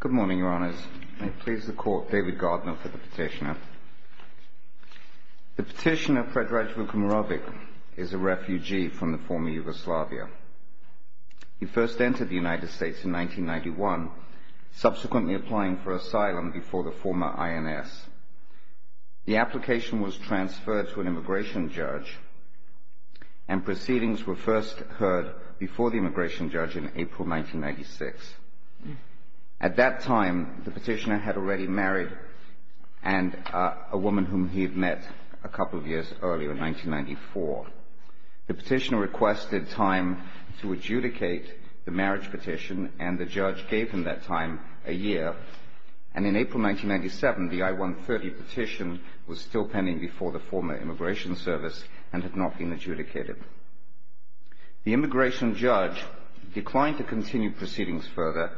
Good morning, Your Honours. May it please the Court, David Gardner for the petitioner. The petitioner, Fredraj Vukmirovic, is a refugee from the former Yugoslavia. He first entered the United States in 1991, subsequently applying for asylum before the former INS. The application was transferred to an immigration judge, and proceedings were first heard before the immigration judge in 1996. At that time, the petitioner had already married a woman whom he had met a couple of years earlier, in 1994. The petitioner requested time to adjudicate the marriage petition, and the judge gave him that time, a year. And in April 1997, the I-130 petition was still pending before the former Immigration Service, and had not been adjudicated. The immigration judge declined to continue proceedings further,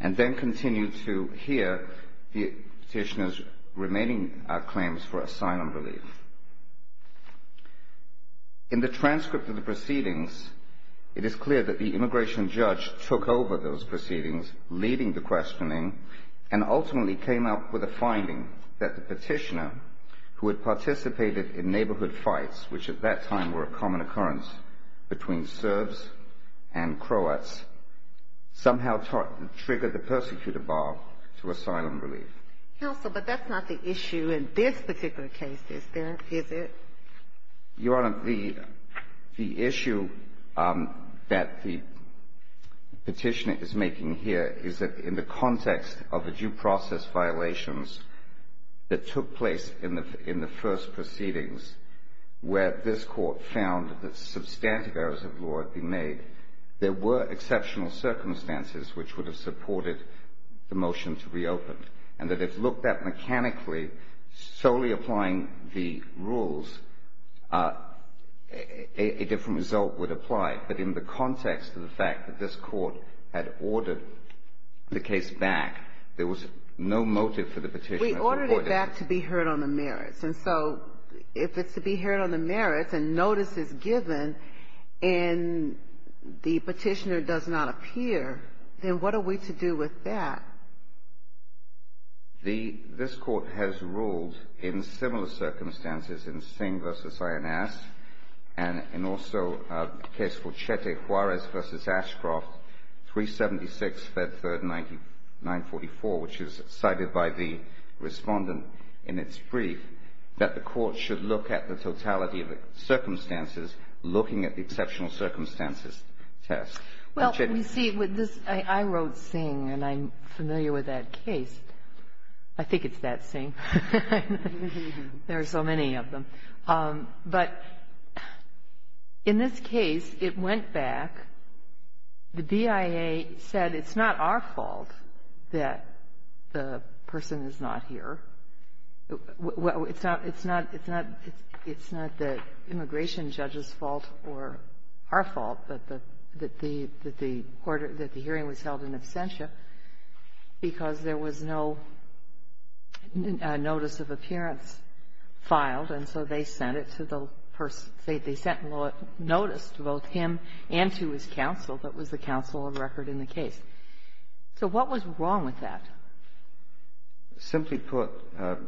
and then continued to hear the petitioner's remaining claims for asylum relief. In the transcript of the proceedings, it is clear that the immigration judge took over those proceedings, leading the questioning, and ultimately came up with a finding that the petitioner, who had participated in neighbourhood fights, which at that time were a common occurrence between Serbs and Croats, somehow triggered the persecutor bar to asylum relief. Counsel, but that's not the issue in this particular case, is it? Your Honour, the issue that the petitioner is making here is that in the context of the first proceedings, where this Court found that substantive errors of law had been made, there were exceptional circumstances which would have supported the motion to reopen, and that if looked at mechanically, solely applying the rules, a different result would apply. But in the context of the fact that this Court had ordered the case back, there was no motive for the petitioner to avoid it. But it's back to be heard on the merits. And so, if it's to be heard on the merits, and notice is given, and the petitioner does not appear, then what are we to do with that? This Court has ruled in similar circumstances in Singh v. Ayanaz, and also a case for Chete Juarez v. Ashcroft, 376, Fed 3rd, 944, which is cited by the Respondent. And it's briefed that the Court should look at the totality of the circumstances looking at the exceptional circumstances test. Well, you see, with this, I wrote Singh, and I'm familiar with that case. I think it's that Singh. There are so many of them. But in this case, it went back. The BIA said it's not our fault that the person is not here. It's not the immigration judge's fault or our fault that the hearing was held in absentia because there was no notice of appearance filed, and so they sent it to the person. They sent notice to both him and to his counsel that was the counsel of record in the case. So what was wrong with that? Simply put,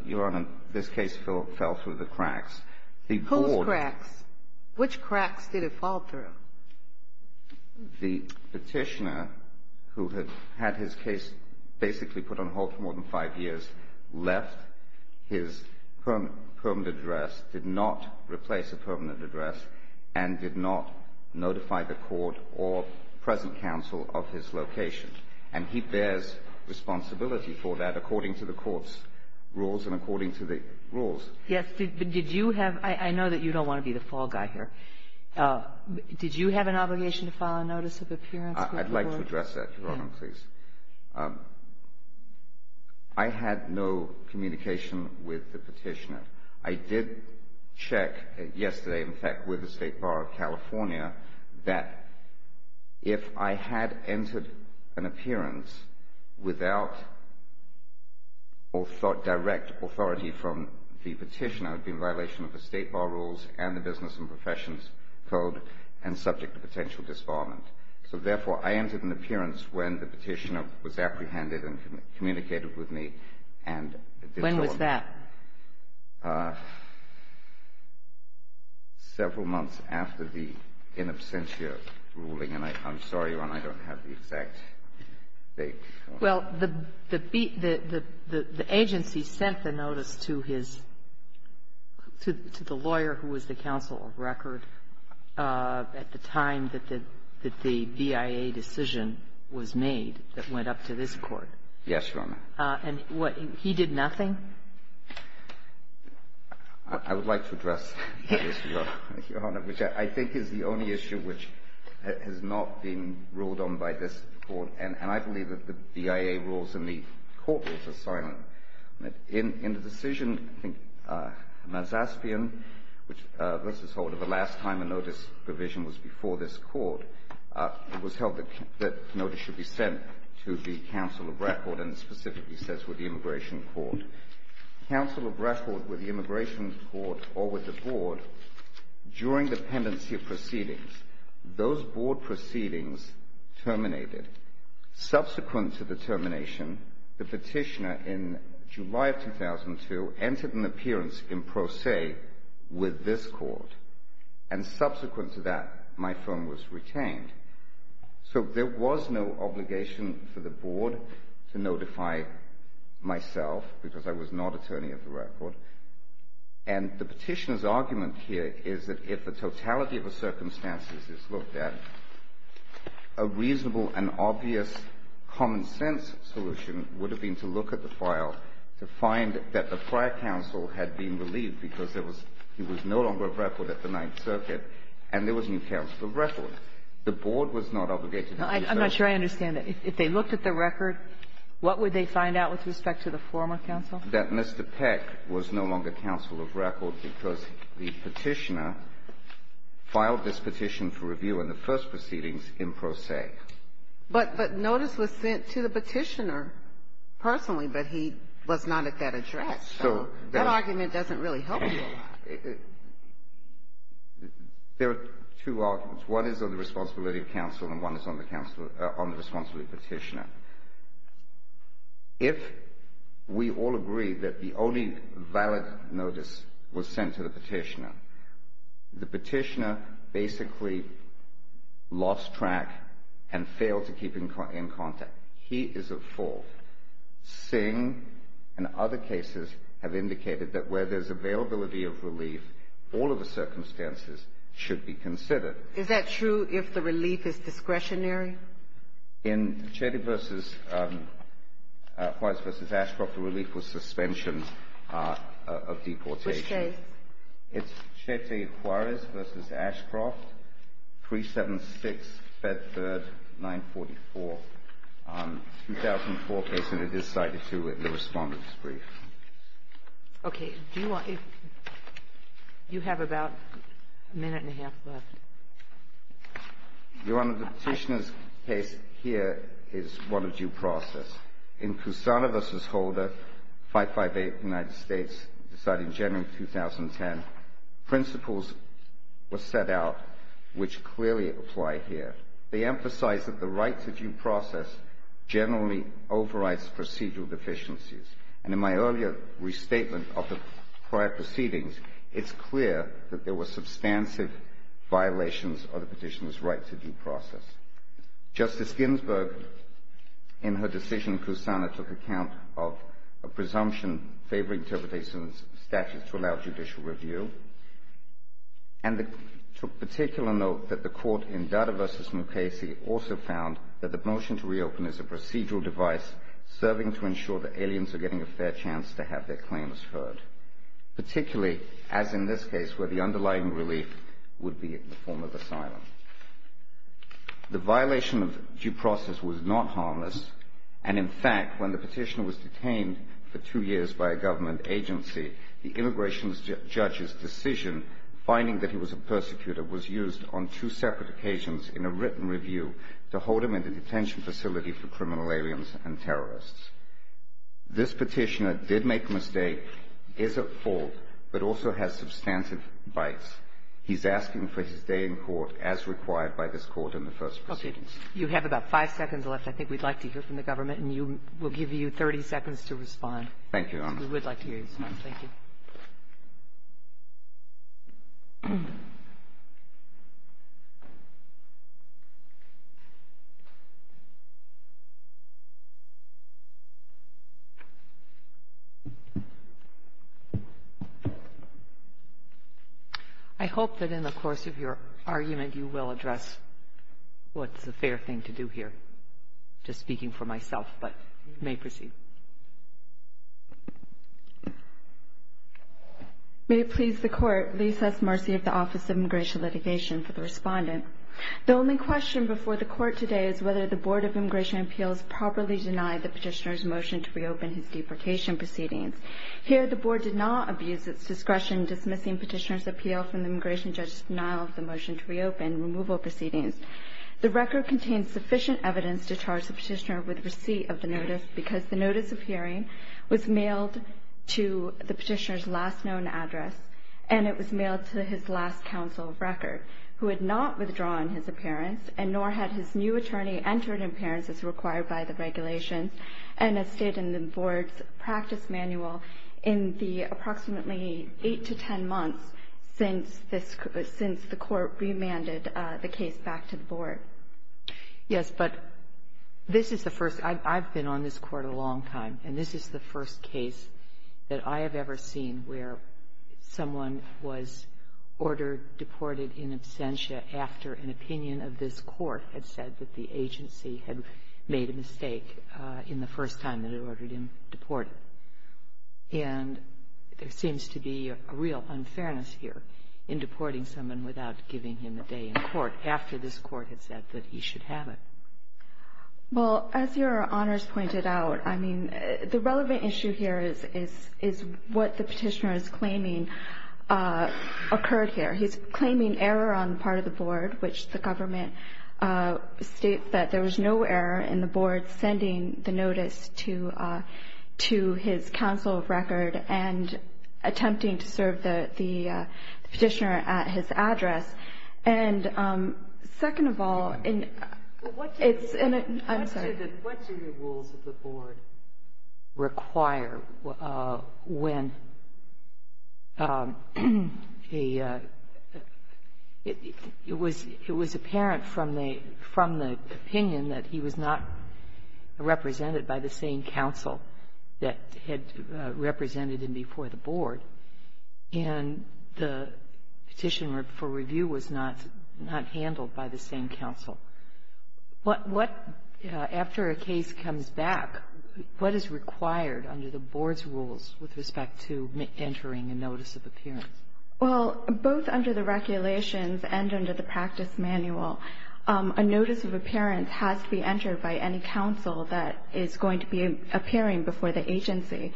Your Honor, this case fell through the cracks. Whose cracks? Which cracks did it fall through? The petitioner, who had had his case basically put on hold for more than five years, left his permanent address, did not replace a permanent address, and did not notify the Court or the present counsel of his location. And he bears responsibility for that according to the Court's rules and according to the rules. Yes. But did you have — I know that you don't want to be the fall guy here. Did you have an obligation to file a notice of appearance with the Court? I'd like to address that, Your Honor, please. I had no communication with the petitioner. I did check yesterday, in fact, with the State Bar of California that if I had entered an appearance without direct authority from the petitioner, it would be in violation of the State Bar rules and the business and professions code and subject to potential disbarment. So, therefore, I entered an appearance when the petitioner was apprehended and communicated with me and did so on that. When was that? Several months after the in absentia ruling. And I'm sorry, Your Honor, I don't have the exact date. Well, the agency sent the notice to his — to the lawyer who was the counsel of record at the time that the BIA decision was made that went up to this Court. Yes, Your Honor. And what — he did nothing? I would like to address that issue, Your Honor, which I think is the only issue which has not been ruled on by this Court. And I believe that the BIA rules and the Court rules are silent. In the decision, I think, Mazaspian, which was the last time a notice provision was before this Court, it was held that notice should be sent to the counsel of record and specifically says with the immigration court. Counsel of record with the immigration court or with the board, during the pendency of proceedings, those board proceedings terminated. Subsequent to the termination, the petitioner in July of 2002 entered an appearance in pro se with this court. And subsequent to that, my firm was retained. So there was no obligation for the board to notify myself because I was not attorney of the record. And the petitioner's argument here is that if the totality of the circumstances is looked at, a reasonable and obvious common-sense solution would have been to look at the file to find that the prior counsel had been relieved because there was — he was no longer counsel of record at the Ninth Circuit, and there was new counsel of record. The board was not obligated to do so. I'm not sure I understand it. If they looked at the record, what would they find out with respect to the former counsel? That Mr. Peck was no longer counsel of record because the petitioner filed this petition for review in the first proceedings in pro se. But notice was sent to the petitioner personally, but he was not at that address. So that argument doesn't really help you a lot. There are two arguments. One is on the responsibility of counsel, and one is on the responsibility of petitioner. If we all agree that the only valid notice was sent to the petitioner, the petitioner basically lost track and failed to keep in contact. He is at fault. But Singh and other cases have indicated that where there's availability of relief, all of the circumstances should be considered. Is that true if the relief is discretionary? In Chetty v. — Juarez v. Ashcroft, the relief was suspension of deportation. Which days? It's Chetty, Juarez v. Ashcroft, 376, Fed Third, 944. 2004 case, and it is cited, too, in the Respondent's brief. Okay. Do you want — you have about a minute and a half left. Your Honor, the petitioner's case here is one of due process. In Poussaint v. Holder, 558, United States, decided in January of 2010, principles were set out which clearly apply here. They emphasize that the right to due process generally overrides procedural deficiencies. And in my earlier restatement of the prior proceedings, it's clear that there were substantive violations of the petitioner's right to due process. Justice Ginsburg, in her decision in Kusana, took account of a presumption favoring interpretation of the statute to allow judicial review, and took particular note that the court in Dada v. Mukasey also found that the motion to reopen is a procedural device serving to ensure that aliens are getting a fair chance to have their claims heard, particularly, as in this case, where the underlying relief would be in the form of asylum. The violation of due process was not harmless. And, in fact, when the petitioner was detained for two years by a government agency, the immigration judge's decision, finding that he was a persecutor, was used on two separate occasions in a written review to hold him in the detention facility for criminal aliens and terrorists. This petitioner did make a mistake, is at fault, but also has substantive bites. He's asking for his day in court as required by this Court in the first proceedings. Okay. You have about five seconds left. I think we'd like to hear from the government, and you – we'll give you 30 seconds to respond. Thank you, Your Honor. We would like to hear you, sir. Thank you. I hope that in the course of your argument, you will address what's a fair thing to do here. I'm just speaking for myself, but you may proceed. May it please the Court, please have mercy of the Office of Immigration Litigation for the respondent. The only question before the Court today is whether the Board of Immigration Appeals properly denied the petitioner's motion to reopen his deportation proceedings. Here, the Board did not abuse its discretion dismissing petitioner's appeal from the immigration judge's denial of the motion to reopen removal proceedings. The record contains sufficient evidence to charge the petitioner with receipt of the notice because the notice of hearing was mailed to the petitioner's last known address, and it was mailed to his last counsel of record, who had not withdrawn his appearance, and nor had his new attorney entered appearance as required by the regulations, and as stated in the Board's practice manual, in the approximately 8 to 10 months since the Court remanded the case back to the Board. Yes, but this is the first. I've been on this Court a long time, and this is the first case that I have ever seen where someone was ordered deported in absentia after an opinion of this Court had said that the agency had made a mistake in the first time that it ordered him deported. And there seems to be a real unfairness here in deporting someone without giving him a day in court after this Court had said that he should have it. Well, as Your Honors pointed out, I mean, the relevant issue here is what the petitioner is claiming occurred here. He's claiming error on the part of the Board, which the government states that there was no error in the Board sending the notice to his counsel of record and attempting to serve the petitioner at his address. And second of all, it's in a — I'm sorry. What do the rules of the Board require when a — it was apparent from the opinion that he was not represented by the same counsel that had represented him before the Board, and the petitioner for review was not handled by the same counsel. What — after a case comes back, what is required under the Board's rules with respect to entering a notice of appearance? Well, both under the regulations and under the practice manual, a notice of appearance has to be entered by any counsel that is going to be appearing before the agency.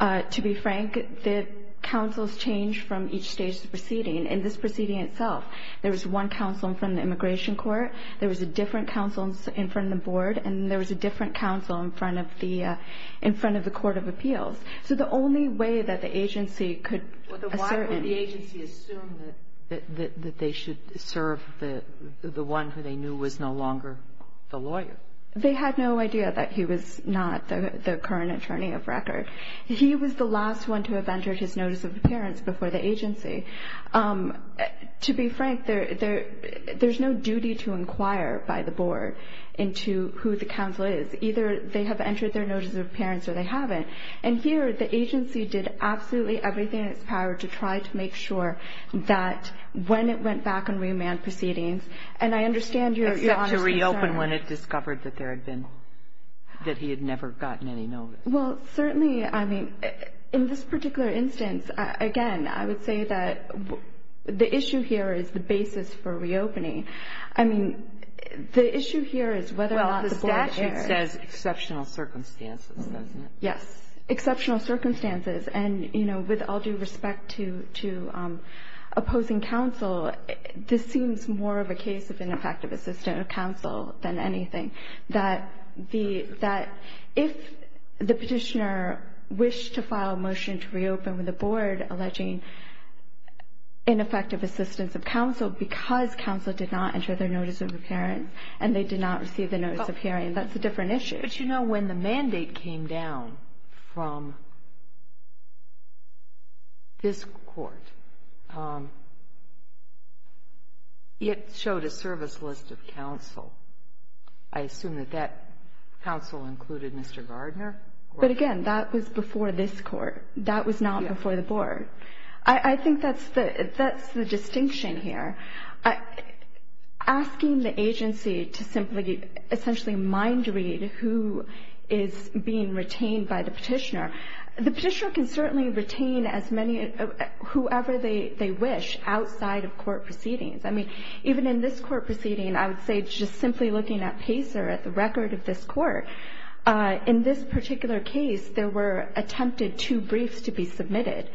To be frank, the counsels change from each stage of the proceeding. In this proceeding itself, there was one counsel in front of the Immigration Court, there was a different counsel in front of the Board, and there was a different counsel in front of the — in front of the Court of Appeals. So the only way that the agency could — Why would the agency assume that they should serve the one who they knew was no longer the lawyer? They had no idea that he was not the current attorney of record. He was the last one to have entered his notice of appearance before the agency. To be frank, there's no duty to inquire by the Board into who the counsel is. Either they have entered their notice of appearance or they haven't. And here, the agency did absolutely everything in its power to try to make sure that when it went back and remanned proceedings — and I understand your — that there had been — that he had never gotten any notice. Well, certainly, I mean, in this particular instance, again, I would say that the issue here is the basis for reopening. I mean, the issue here is whether or not the Board — Well, the statute says exceptional circumstances, doesn't it? Yes. Exceptional circumstances. And, you know, with all due respect to — to opposing counsel, this seems more of a case of ineffective assistance of counsel than anything. That the — that if the Petitioner wished to file a motion to reopen with the Board alleging ineffective assistance of counsel because counsel did not enter their notice of appearance and they did not receive the notice of hearing, that's a different issue. But, you know, when the mandate came down from this Court, it showed a service list of counsel. I assume that that counsel included Mr. Gardner? But, again, that was before this Court. That was not before the Board. I think that's the — that's the distinction here. Asking the agency to simply essentially mind-read who is being retained by the Petitioner, the Petitioner can certainly retain as many — whoever they wish outside of Court proceedings. I mean, even in this Court proceeding, I would say just simply looking at Pacer, at the record of this Court, in this particular case, there were attempted two briefs to be submitted.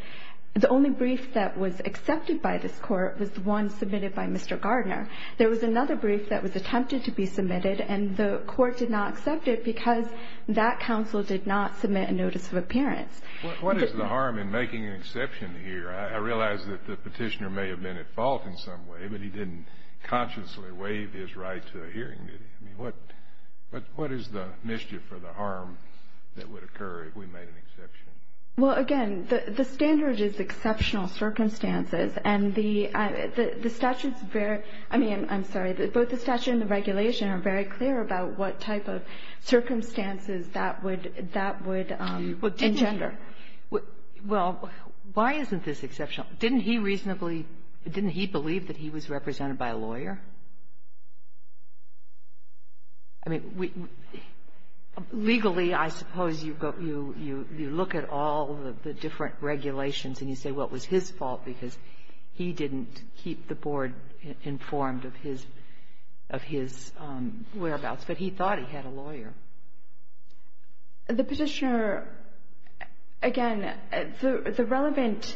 The only brief that was accepted by this Court was the one submitted by Mr. Gardner. There was another brief that was attempted to be submitted, and the Court did not accept it because that counsel did not submit a notice of appearance. What is the harm in making an exception here? I realize that the Petitioner may have been at fault in some way, but he didn't consciously waive his right to a hearing, did he? I mean, what is the mischief or the harm that would occur if we made an exception? Well, again, the standard is exceptional circumstances, and the — the statute's very — I mean, I'm sorry. Both the statute and the regulation are very clear about what type of circumstances that would — that would engender. Well, why isn't this exceptional? Didn't he reasonably — didn't he believe that he was represented by a lawyer? I mean, we — legally, I suppose you go — you look at all of the different regulations and you say, well, it was his fault because he didn't keep the Board informed of his — of his whereabouts, but he thought he had a lawyer. The Petitioner — again, the relevant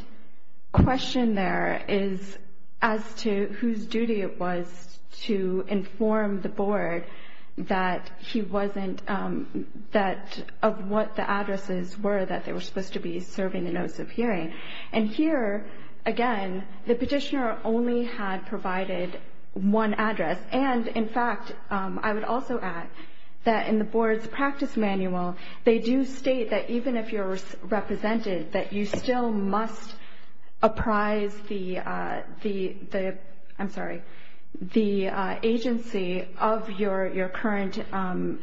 question there is as to whose duty it was to inform the Board that he wasn't — that — of what the addresses were that they were supposed to be serving the notice of hearing. And here, again, the Petitioner only had provided one address. And, in fact, I would also add that in the Board's practice manual, they do state that even if you're represented, that you still must apprise the — I'm sorry, the agency of your current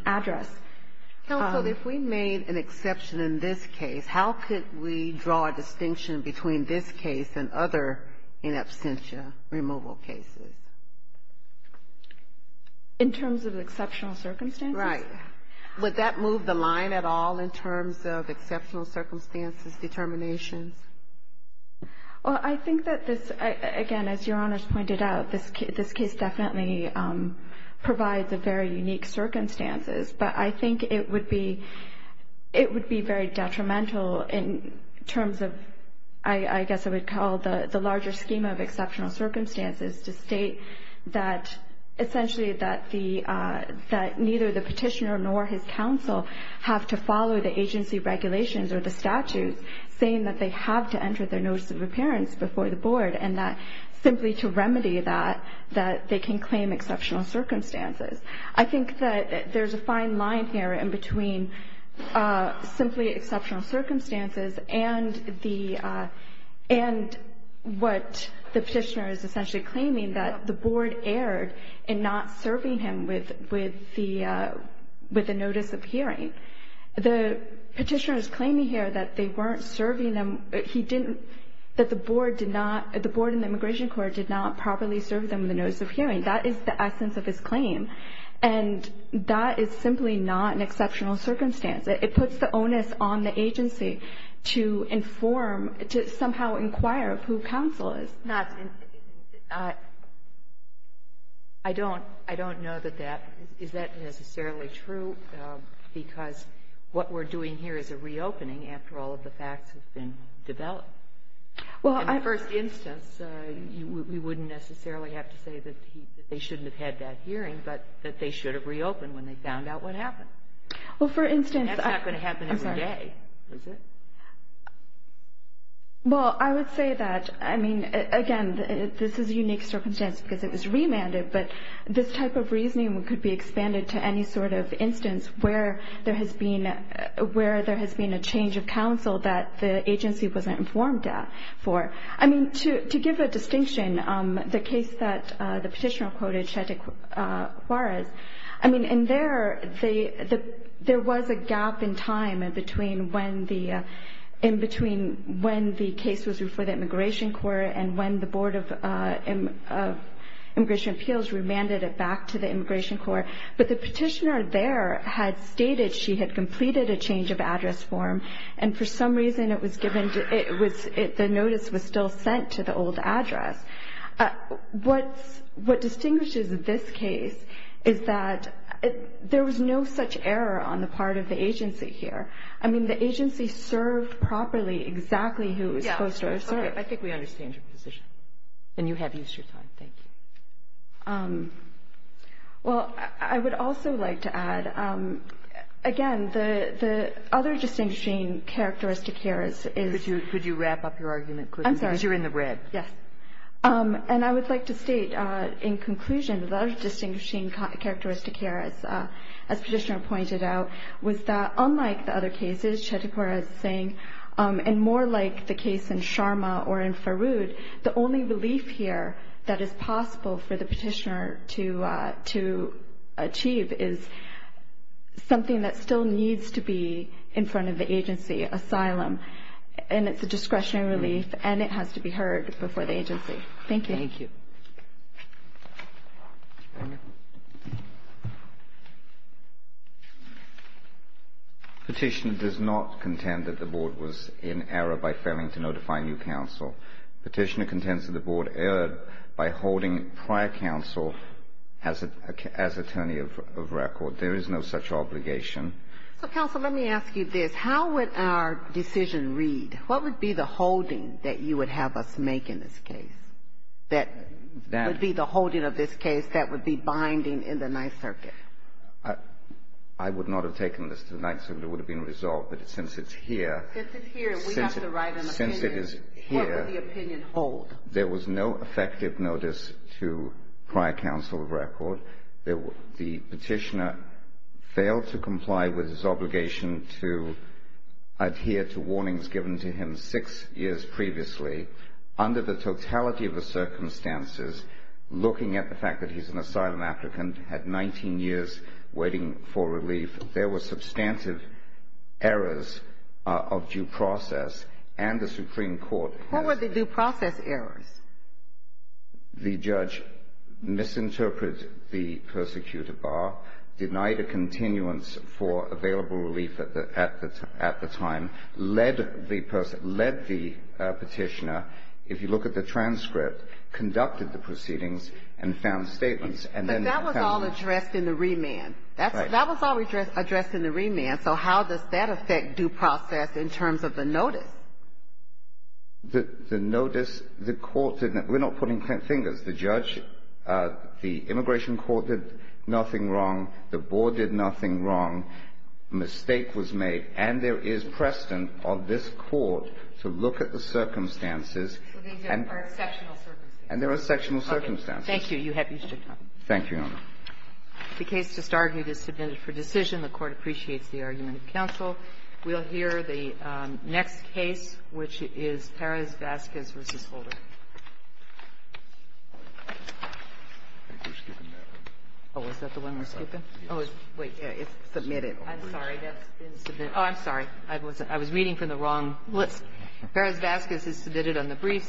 address. Counsel, if we made an exception in this case, how could we draw a distinction between this case and other in absentia removal cases? In terms of exceptional circumstances? Right. Would that move the line at all in terms of exceptional circumstances determinations? Well, I think that this — again, as Your Honors pointed out, this case definitely provides a very unique circumstances, but I think it would be — it would be very detrimental in terms of — I guess I would call the larger schema of exceptional circumstances to state that — essentially that the — that neither the Petitioner nor his counsel have to follow the agency regulations or the statutes saying that they have to enter their notice of appearance before the Board, and that simply to remedy that, that they can claim exceptional circumstances. I think that there's a fine line here in between simply exceptional circumstances and the — and what the Petitioner is essentially claiming, that the Board erred in not serving him with the notice of hearing. The Petitioner is claiming here that they weren't serving him — he didn't — that the Board did not — the Board and the Immigration Court did not properly serve them with the notice of hearing. That is the essence of his claim. And that is simply not an exceptional circumstance. It puts the onus on the agency to inform — to somehow inquire who counsel is. But not — I don't know that that — is that necessarily true? Because what we're doing here is a reopening after all of the facts have been developed. Well, I — In the first instance, we wouldn't necessarily have to say that they shouldn't have had that hearing, but that they should have reopened when they found out what happened. Well, for instance — That's not going to happen every day, is it? Well, I would say that, I mean, again, this is a unique circumstance because it was remanded, but this type of reasoning could be expanded to any sort of instance where there has been a change of counsel that the agency wasn't informed for. I mean, to give a distinction, the case that the Petitioner quoted, Chete Juarez, I mean, in there, there was a gap in time in between when the case was referred to the Immigration Court and when the Board of Immigration Appeals remanded it back to the Immigration Court. But the Petitioner there had stated she had completed a change of address form, and for some reason it was given — the notice was still sent to the old address. What distinguishes this case is that there was no such error on the part of the agency here. I mean, the agency served properly exactly who it was supposed to serve. Okay. I think we understand your position, and you have used your time. Thank you. Well, I would also like to add, again, the other distinguishing characteristic here is — Could you wrap up your argument quickly? I'm sorry. Because you're in the red. Yes. And I would like to state, in conclusion, the other distinguishing characteristic here, as Petitioner pointed out, was that unlike the other cases Chete Juarez is saying, and more like the case in Sharma or in Farood, the only relief here that is possible for the Petitioner to achieve is something that still needs to be in front of the agency, asylum. And it's a discretionary relief, and it has to be heard before the agency. Thank you. Thank you. Petitioner does not contend that the Board was in error by failing to notify new counsel. Petitioner contends that the Board erred by holding prior counsel as attorney of record. There is no such obligation. So, counsel, let me ask you this. How would our decision read? What would be the holding that you would have us make in this case that would be the holding of this case that would be binding in the Ninth Circuit? I would not have taken this to the Ninth Circuit. It would have been resolved. But since it's here — Since it's here, we have to write an opinion. Since it is here — What would the opinion hold? There was no effective notice to prior counsel of record. The petitioner failed to comply with his obligation to adhere to warnings given to him six years previously. Under the totality of the circumstances, looking at the fact that he's an asylum applicant, had 19 years waiting for relief, there were substantive errors of due process, and the Supreme Court has — What were the due process errors? The judge misinterpreted the persecutor bar, denied a continuance for available relief at the time, led the petitioner, if you look at the transcript, conducted the proceedings, and found statements. But that was all addressed in the remand. Right. That was all addressed in the remand. So how does that affect due process in terms of the notice? The notice, the court — we're not putting fingers. The judge — the immigration court did nothing wrong. The board did nothing wrong. A mistake was made. And there is precedent of this Court to look at the circumstances and — So these are exceptional circumstances. And there are exceptional circumstances. Okay. Thank you. You have used your time. Thank you, Your Honor. The case just argued is submitted for decision. The Court appreciates the argument of counsel. We'll hear the next case, which is Perez-Vazquez v. Holder. Oh, is that the one we're skipping? Oh, wait. It's submitted. I'm sorry. That's been submitted. Oh, I'm sorry. I was reading from the wrong list. Perez-Vazquez is submitted on the briefs.